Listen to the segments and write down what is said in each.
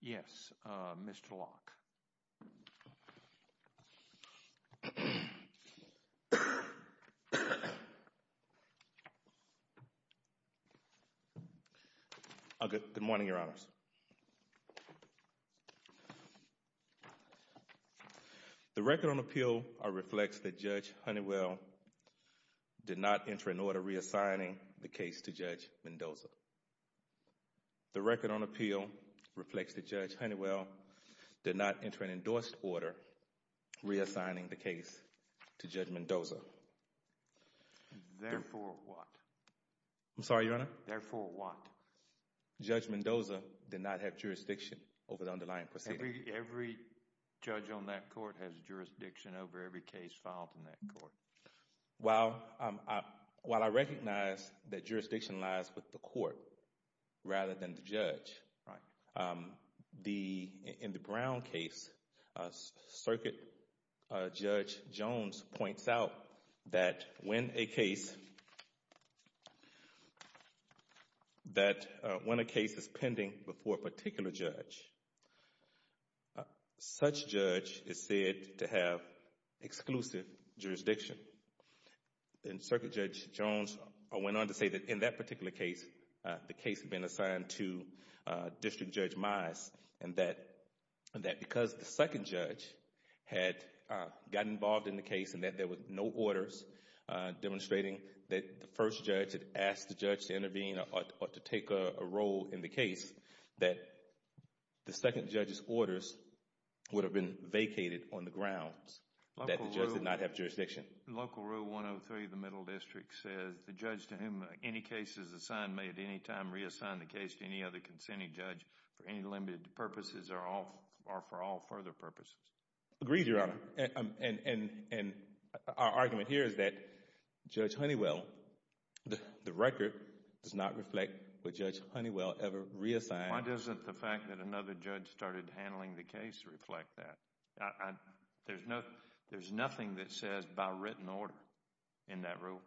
Yes, Mr. Locke. Good morning, Your Honors. The record on appeal reflects that Judge Honeywell did not enter into order reassigning the case to Judge Mendoza. The record on appeal reflects that Judge Honeywell did not enter into an endorsed order reassigning the case to Judge Mendoza. Therefore what? I'm sorry, Your Honor? Therefore what? Judge Mendoza did not have jurisdiction over the underlying proceeding. Every judge on that court has jurisdiction over every case filed in that court. While I recognize that jurisdiction lies with the court rather than the judge, in the Brown case, Circuit Judge Jones points out that when a case is pending before a particular judge, such judge is said to have exclusive jurisdiction. And Circuit Judge Jones went on to say that in that particular case, the case had been assigned to District Judge Mize and that because the second judge had gotten involved in the case and that there were no orders demonstrating that the first judge had asked the judge to intervene or to take a role in the case, that the second judge's orders would have been vacated on the grounds that the judge did not have jurisdiction. Local Rule 103 of the Middle District says the judge to whom any case is assigned may at any time reassign the case to any other consenting judge for any limited purposes or for all further purposes. Your Honor, and our argument here is that Judge Honeywell, the record does not reflect what Judge Honeywell ever reassigned. Why doesn't the fact that another judge started handling the case reflect that? There's nothing that says by written order in that rule.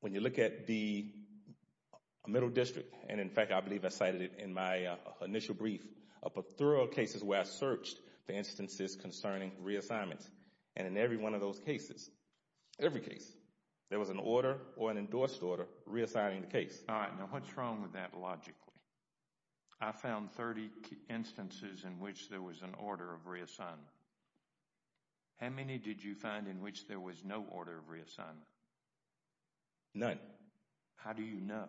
When you look at the Middle District, and in fact I believe I cited it in my initial brief, but there are cases where I searched for instances concerning reassignments. And in every one of those cases, every case, there was an order or an endorsed order reassigning the case. All right, now what's wrong with that logically? I found 30 instances in which there was an order of reassignment. How many did you find in which there was no order of reassignment? None. How do you know?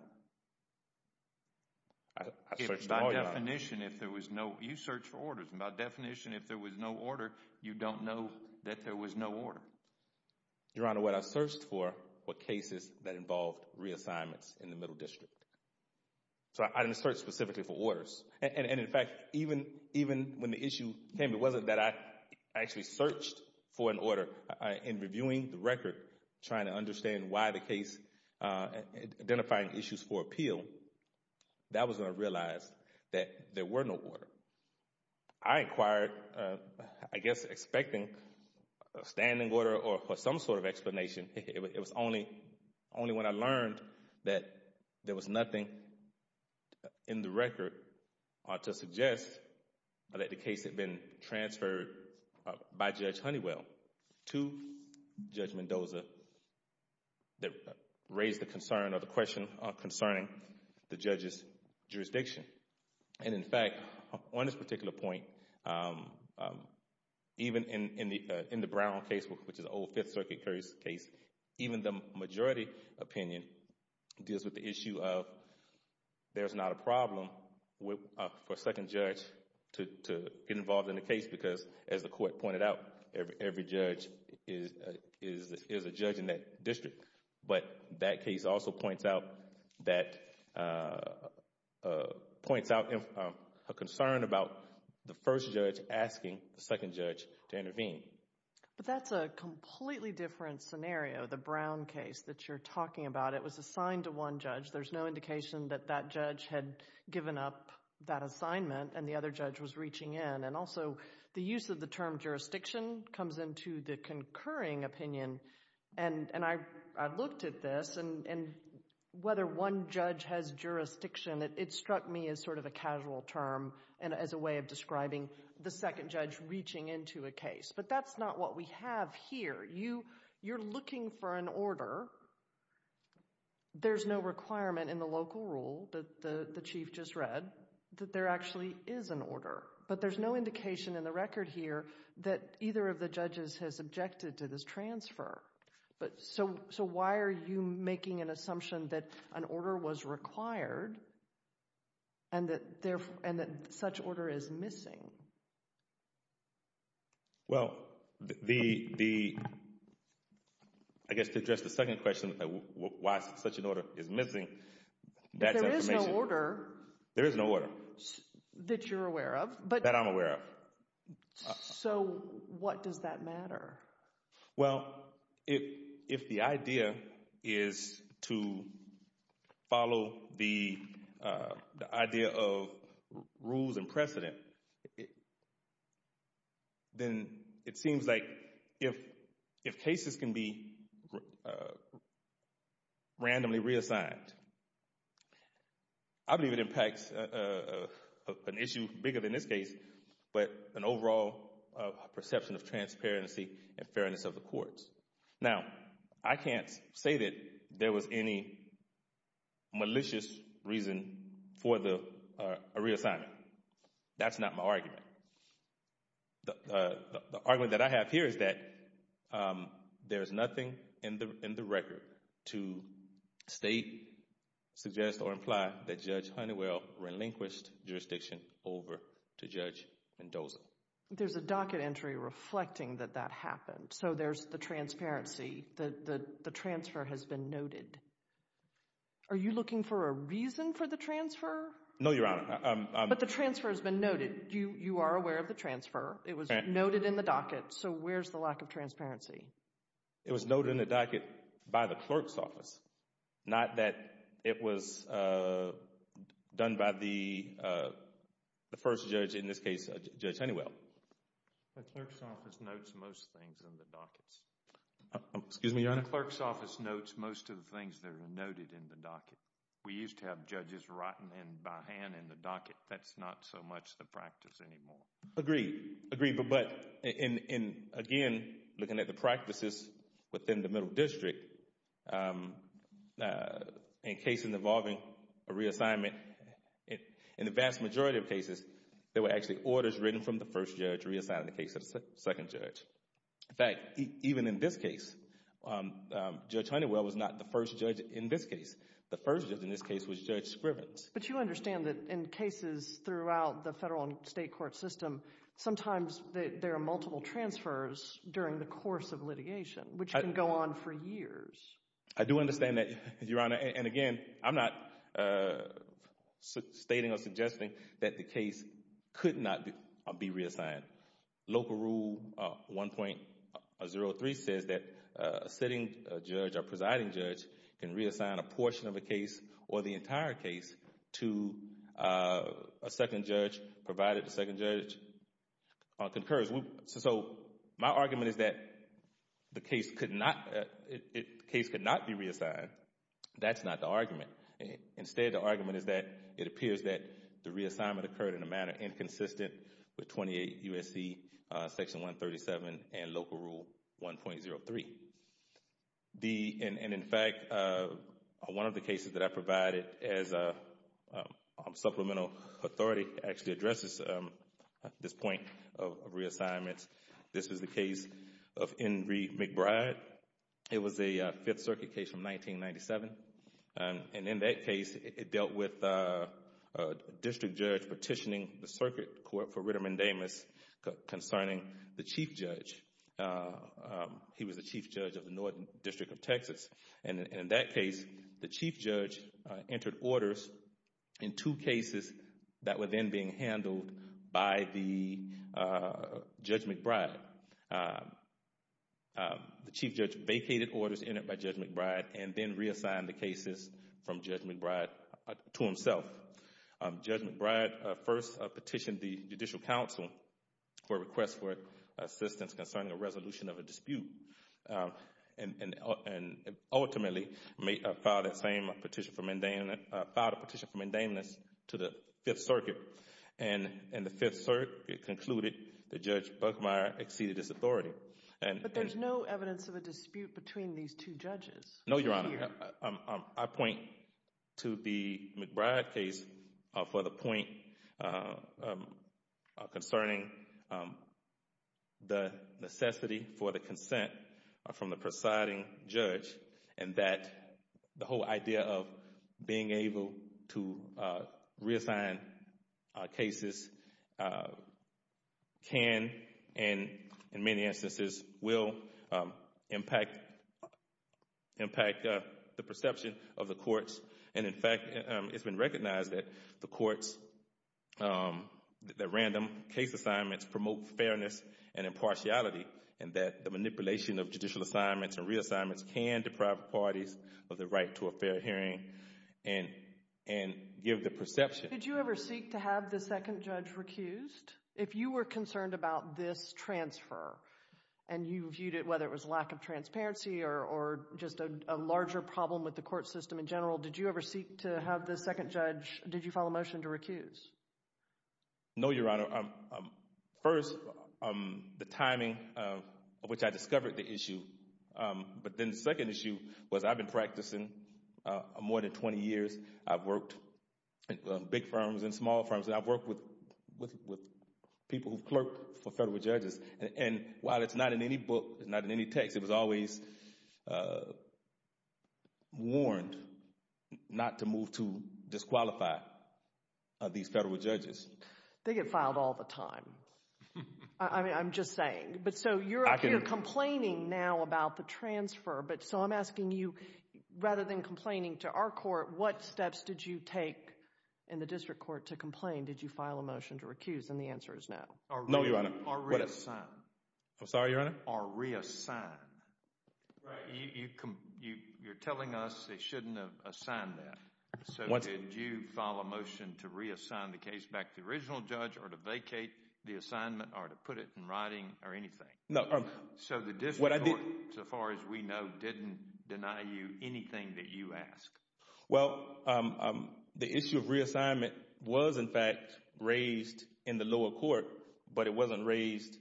I searched all your items. By definition, if there was no, you search for orders, and by definition, if there was no order, you don't know that there was no order. Your Honor, what I searched for were cases that involved reassignments in the Middle District. So I didn't search specifically for orders. And in fact, even when the issue came, it wasn't that I actually searched for an order. In reviewing the record, trying to understand why the case, identifying issues for appeal, that was when I realized that there were no order. I inquired, I guess expecting a standing order or some sort of explanation. It was only when I learned that there was nothing in the record to suggest that the case had been transferred by Judge Honeywell to Judge Mendoza that raised the concern or the question concerning the judge's jurisdiction. And in fact, on this particular point, even in the Brown case, which is an old Fifth Circuit case, even the majority opinion deals with the issue of there's not a problem for a second judge to get involved in the case because, as the court pointed out, every judge is a judge in that district. But that case also points out a concern about the first judge asking the second judge to intervene. But that's a completely different scenario, the Brown case that you're talking about. It was assigned to one judge. There's no indication that that judge had given up that assignment and the other judge was reaching in. And also, the use of the term jurisdiction comes into the concurring opinion. And I looked at this, and whether one judge has jurisdiction, it struck me as sort of a casual term and as a way of describing the second judge reaching into a case. But that's not what we have here. You're looking for an order. There's no requirement in the local rule that the chief just read that there actually is an order. But there's no indication in the record here that either of the judges has objected to this transfer. So why are you making an assumption that an order was required and that such order is missing? Well, I guess to address the second question, why such an order is missing, that's information. There is no order. That you're aware of. That I'm aware of. So what does that matter? Well, if the idea is to follow the idea of rules and precedent, then it seems like if cases can be randomly reassigned, I believe it impacts an issue bigger than this case, but an overall perception of transparency and fairness of the courts. Now, I can't say that there was any malicious reason for a reassignment. That's not my argument. The argument that I have here is that there is nothing in the record to state, suggest, or imply that Judge Honeywell relinquished jurisdiction over to Judge Mendoza. There's a docket entry reflecting that that happened. So there's the transparency that the transfer has been noted. Are you looking for a reason for the transfer? No, Your Honor. But the transfer has been noted. You are aware of the transfer. It was noted in the docket. So where's the lack of transparency? It was noted in the docket by the clerk's office. Not that it was done by the first judge, in this case, Judge Honeywell. The clerk's office notes most things in the dockets. Excuse me, Your Honor? The clerk's office notes most of the things that are noted in the docket. We used to have judges writing them by hand in the docket. That's not so much the practice anymore. Agreed. Agreed. But again, looking at the practices within the Middle District, in cases involving a reassignment, in the vast majority of cases, there were actually orders written from the first judge reassigning the case to the second judge. In fact, even in this case, Judge Honeywell was not the first judge in this case. The first judge in this case was Judge Scrivens. But you understand that in cases throughout the federal and state court system, sometimes there are multiple transfers during the course of litigation, which can go on for years. I do understand that, Your Honor. And again, I'm not stating or suggesting that the case could not be reassigned. Local Rule 1.03 says that a sitting judge or presiding judge can reassign a portion of a case or the entire case to a second judge, provided the second judge concurs. So my argument is that the case could not be reassigned. That's not the argument. Instead, the argument is that it appears that the reassignment occurred in a manner that was inconsistent with 28 U.S.C. Section 137 and Local Rule 1.03. And in fact, one of the cases that I provided as a supplemental authority actually addresses this point of reassignments, this is the case of Enrique McBride. It was a Fifth Circuit case from 1997. And in that case, it dealt with a district judge petitioning the Circuit Court for Ritterman-Damas concerning the chief judge. He was the chief judge of the Northern District of Texas. And in that case, the chief judge entered orders in two cases that were then being handled by Judge McBride. The chief judge vacated orders entered by Judge McBride and then reassigned the cases from Judge McBride to himself. Judge McBride first petitioned the Judicial Council for a request for assistance concerning a resolution of a dispute, and ultimately filed a petition for mandameness to the Fifth Circuit. And in the Fifth Circuit, it concluded that Judge Buckmeyer exceeded his authority. But there's no evidence of a dispute between these two judges. No, Your Honor. I point to the McBride case for the point concerning the necessity for the consent from the presiding judge, and that the whole idea of being able to reassign cases can, and in many instances will, impact the perception of the courts. And in fact, it's been recognized that the courts, that random case assignments promote fairness and impartiality, and that the manipulation of judicial assignments and reassignments can deprive parties of the right to a fair hearing and give the perception. Did you ever seek to have the second judge recused? If you were concerned about this transfer, and you viewed it, whether it was lack of transparency or just a larger problem with the court system in general, did you ever seek to have the second judge, did you file a motion to recuse? No, Your Honor. First, the timing of which I discovered the issue, but then the second issue was I've been practicing more than 20 years. I've worked in big firms and small firms, and I've worked with people who've clerked for federal judges. And while it's not in any book, it's not in any text, it was always warned not to move to disqualify these federal judges. They get filed all the time. I'm just saying. You're complaining now about the transfer, so I'm asking you, rather than complaining to our court, what steps did you take in the district court to complain? Did you file a motion to recuse? And the answer is no. No, Your Honor. Or reassign. I'm sorry, Your Honor? Or reassign. Right. You're telling us they shouldn't have assigned that. So did you file a motion to reassign the case back to the original judge or to vacate the assignment or to put it in writing or anything? No. So the district court, so far as we know, didn't deny you anything that you asked? Well, the issue of reassignment was, in fact, raised in the lower court, but it wasn't raised—the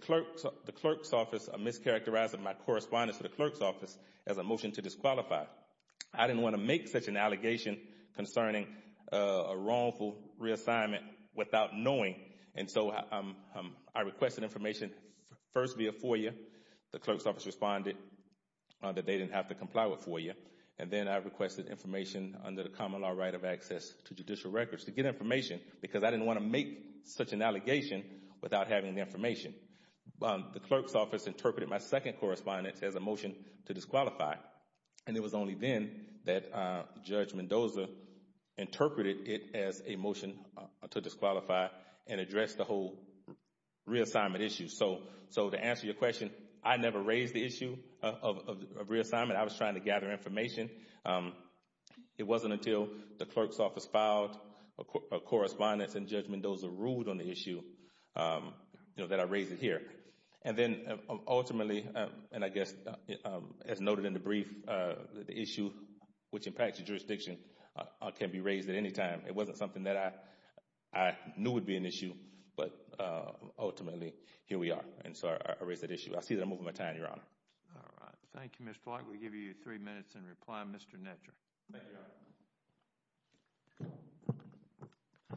clerk's office mischaracterized my correspondence to the clerk's office as a motion to disqualify. I didn't want to make such an allegation concerning a wrongful reassignment without knowing, and so I requested information first via FOIA. The clerk's office responded that they didn't have to comply with FOIA, and then I requested information under the common law right of access to judicial records to get information because I didn't want to make such an allegation without having the information. The clerk's office interpreted my second correspondence as a motion to disqualify, and it was only then that Judge Mendoza interpreted it as a motion to disqualify and addressed the whole reassignment issue. So to answer your question, I never raised the issue of reassignment. I was trying to gather information. It wasn't until the clerk's office filed a correspondence and Judge Mendoza ruled on the issue that I raised it here. And then, ultimately, and I guess as noted in the brief, the issue which impacts the jurisdiction can be raised at any time. It wasn't something that I knew would be an issue, but ultimately, here we are, and so I raised that issue. I see that I'm moving my time, Your Honor. All right. Thank you, Mr. Clark. We give you three minutes in reply. Mr. Netcher. Thank you, Your Honor.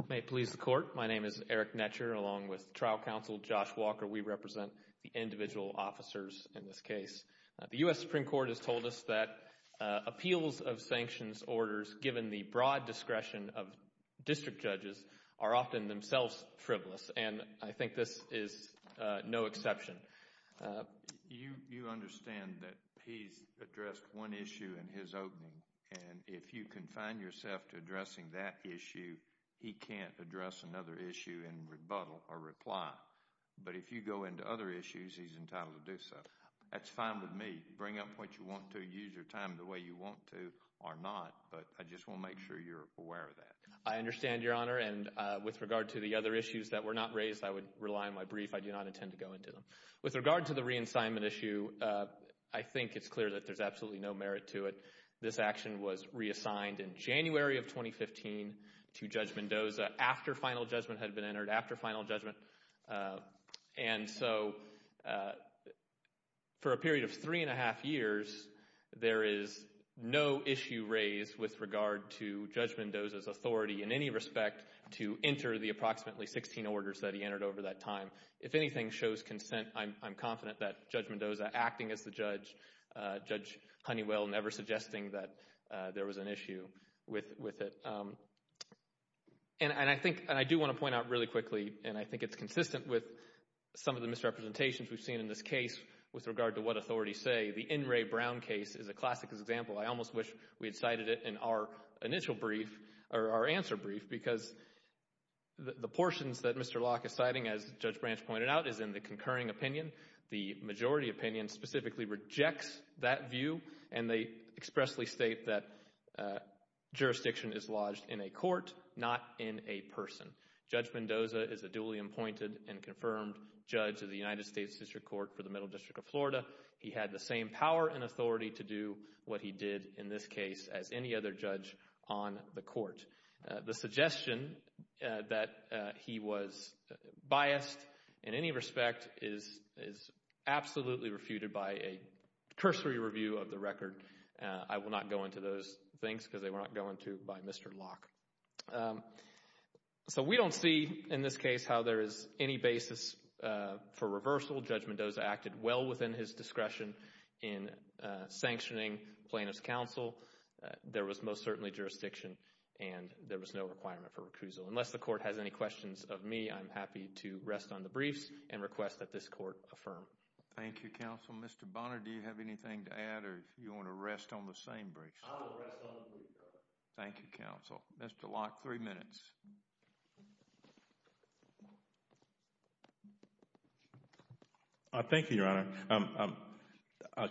May it please the Court. My name is Eric Netcher, along with trial counsel Josh Walker. We represent the individual officers in this case. The U.S. Supreme Court has told us that appeals of sanctions orders, given the broad discretion of district judges, are often themselves frivolous, and I think this is no exception. You understand that he's addressed one issue in his opening, and if you confine yourself to addressing that issue, he can't address another issue in rebuttal or reply. But if you go into other issues, he's entitled to do so. That's fine with me. Bring up what you want to. Use your time the way you want to or not, but I just want to make sure you're aware of that. I understand, Your Honor, and with regard to the other issues that were not raised, I would rely on my brief. I do not intend to go into them. With regard to the re-assignment issue, I think it's clear that there's absolutely no merit to it. This action was reassigned in January of 2015 to Judge Mendoza after final judgment had been entered, after final judgment, and so for a period of three and a half years, there is no issue raised with regard to Judge Mendoza's authority in any respect to enter the approximately 16 orders that he entered over that time. If anything shows consent, I'm confident that Judge Mendoza, acting as the judge, and Judge Honeywell never suggesting that there was an issue with it. And I think, and I do want to point out really quickly, and I think it's consistent with some of the misrepresentations we've seen in this case with regard to what authorities say. The N. Ray Brown case is a classic example. I almost wish we had cited it in our initial brief, or our answer brief, because the portions that Mr. Locke is citing, as Judge Branch pointed out, is in the concurring opinion. The majority opinion specifically rejects that view, and they expressly state that jurisdiction is lodged in a court, not in a person. Judge Mendoza is a duly appointed and confirmed judge of the United States District Court for the Middle District of Florida. He had the same power and authority to do what he did in this case as any other judge on the court. And the suggestion that he was biased in any respect is absolutely refuted by a cursory review of the record. I will not go into those things because they will not go into by Mr. Locke. So, we don't see in this case how there is any basis for reversal. Judge Mendoza acted well within his discretion in sanctioning plaintiff's counsel. There was most certainly jurisdiction, and there was no requirement for recusal. Unless the court has any questions of me, I'm happy to rest on the briefs and request that this court affirm. Thank you, counsel. Mr. Bonner, do you have anything to add, or do you want to rest on the same briefs? I will rest on the briefs, Your Honor. Thank you, counsel. Mr. Locke, three minutes. Thank you, Your Honor.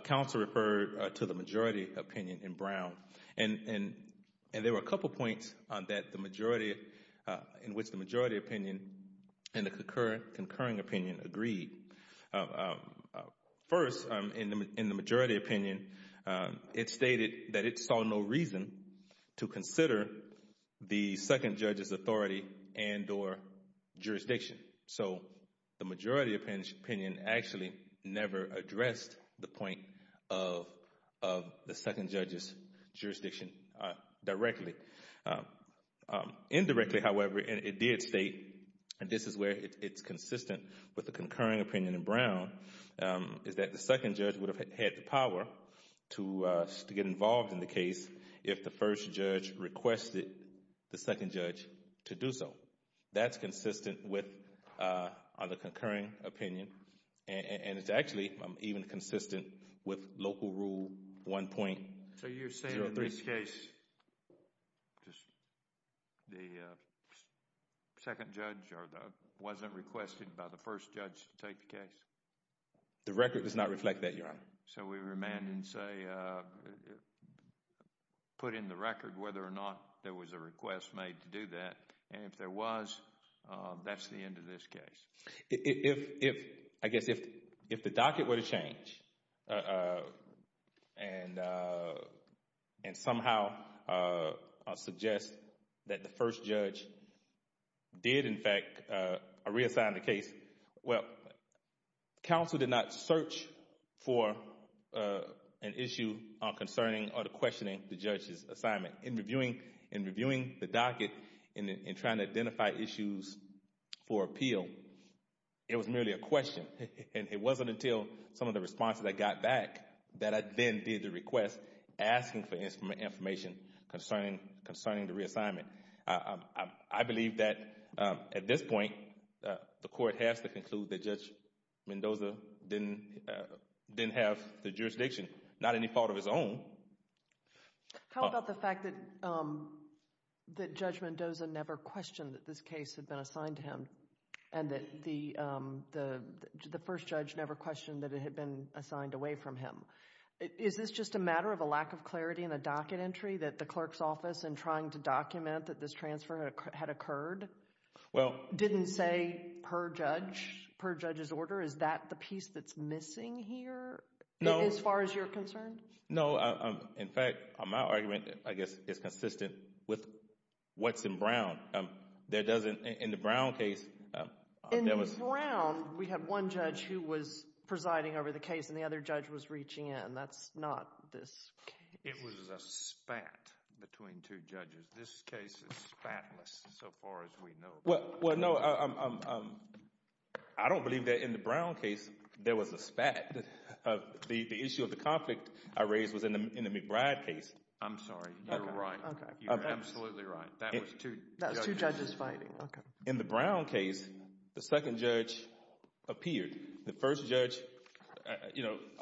Counsel referred to the majority opinion in Brown, and there were a couple points in which the majority opinion and the concurring opinion agreed. First, in the majority opinion, it stated that it saw no reason to consider the second judge's authority and or jurisdiction. So, the majority opinion actually never addressed the point of the second judge's jurisdiction directly. Indirectly, however, it did state, and this is where it's consistent with the concurring opinion in Brown, is that the second judge would have had the power to get involved in the case if the first judge requested the second judge to do so. That's consistent with the concurring opinion, and it's actually even consistent with local rule 1.03. So, you're saying in this case, the second judge wasn't requested by the first judge to take the case? The record does not reflect that, Your Honor. So, we remand and say, put in the record whether or not there was a request made to do that, and if there was, that's the end of this case. If, I guess, if the docket were to change and somehow suggest that the first judge did in fact reassign the case, well, counsel did not search for an issue concerning or questioning the judge's assignment. In reviewing the docket and trying to identify issues for appeal, it was merely a question, and it wasn't until some of the responses I got back that I then did the request asking for information concerning the reassignment. I believe that at this point, the court has to conclude that Judge Mendoza didn't have the jurisdiction, not any fault of his own. How about the fact that Judge Mendoza never questioned that this case had been assigned to him, and that the first judge never questioned that it had been assigned away from him? Is this just a matter of a lack of clarity in the docket entry that the clerk's office in trying to document that this transfer had occurred didn't say per judge's order? Is that the piece that's missing here? No. As far as you're concerned? No. In fact, my argument, I guess, is consistent with what's in Brown. There doesn't, in the Brown case, there was... In Brown, we had one judge who was presiding over the case, and the other judge was reaching in. That's not this case. It was a spat between two judges. This case is spatless so far as we know. Well, no, I don't believe that in the Brown case there was a spat. The issue of the conflict I raised was in the McBride case. I'm sorry. You're right. Okay. You're absolutely right. That was two judges fighting. Okay. In the Brown case, the second judge appeared. The first judge,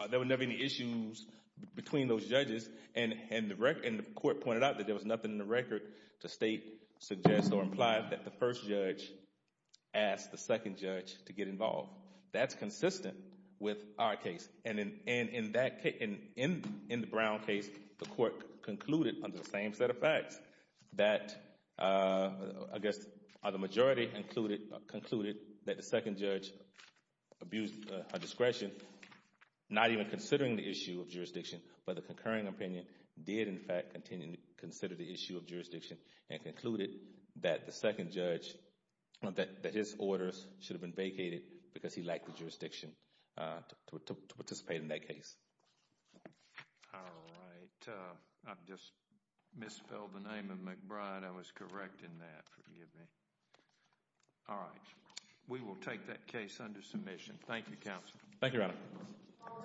there were never any issues between those judges, and the court pointed out that there was nothing in the record to state, suggest, or imply that the first judge asked the second judge to get involved. That's consistent with our case. In the Brown case, the court concluded under the same set of facts that, I guess, the majority concluded that the second judge abused her discretion, not even considering the issue of jurisdiction, but the concurring opinion did, in fact, consider the issue of jurisdiction and concluded that the second judge, that his orders should have been vacated because he lacked the jurisdiction to participate in that case. All right. I just misspelled the name of McBride. I was correcting that. Forgive me. All right. We will take that case under submission. Thank you, Counsel. Thank you, Your Honor. All right. We will adjourn. Thank you for attending.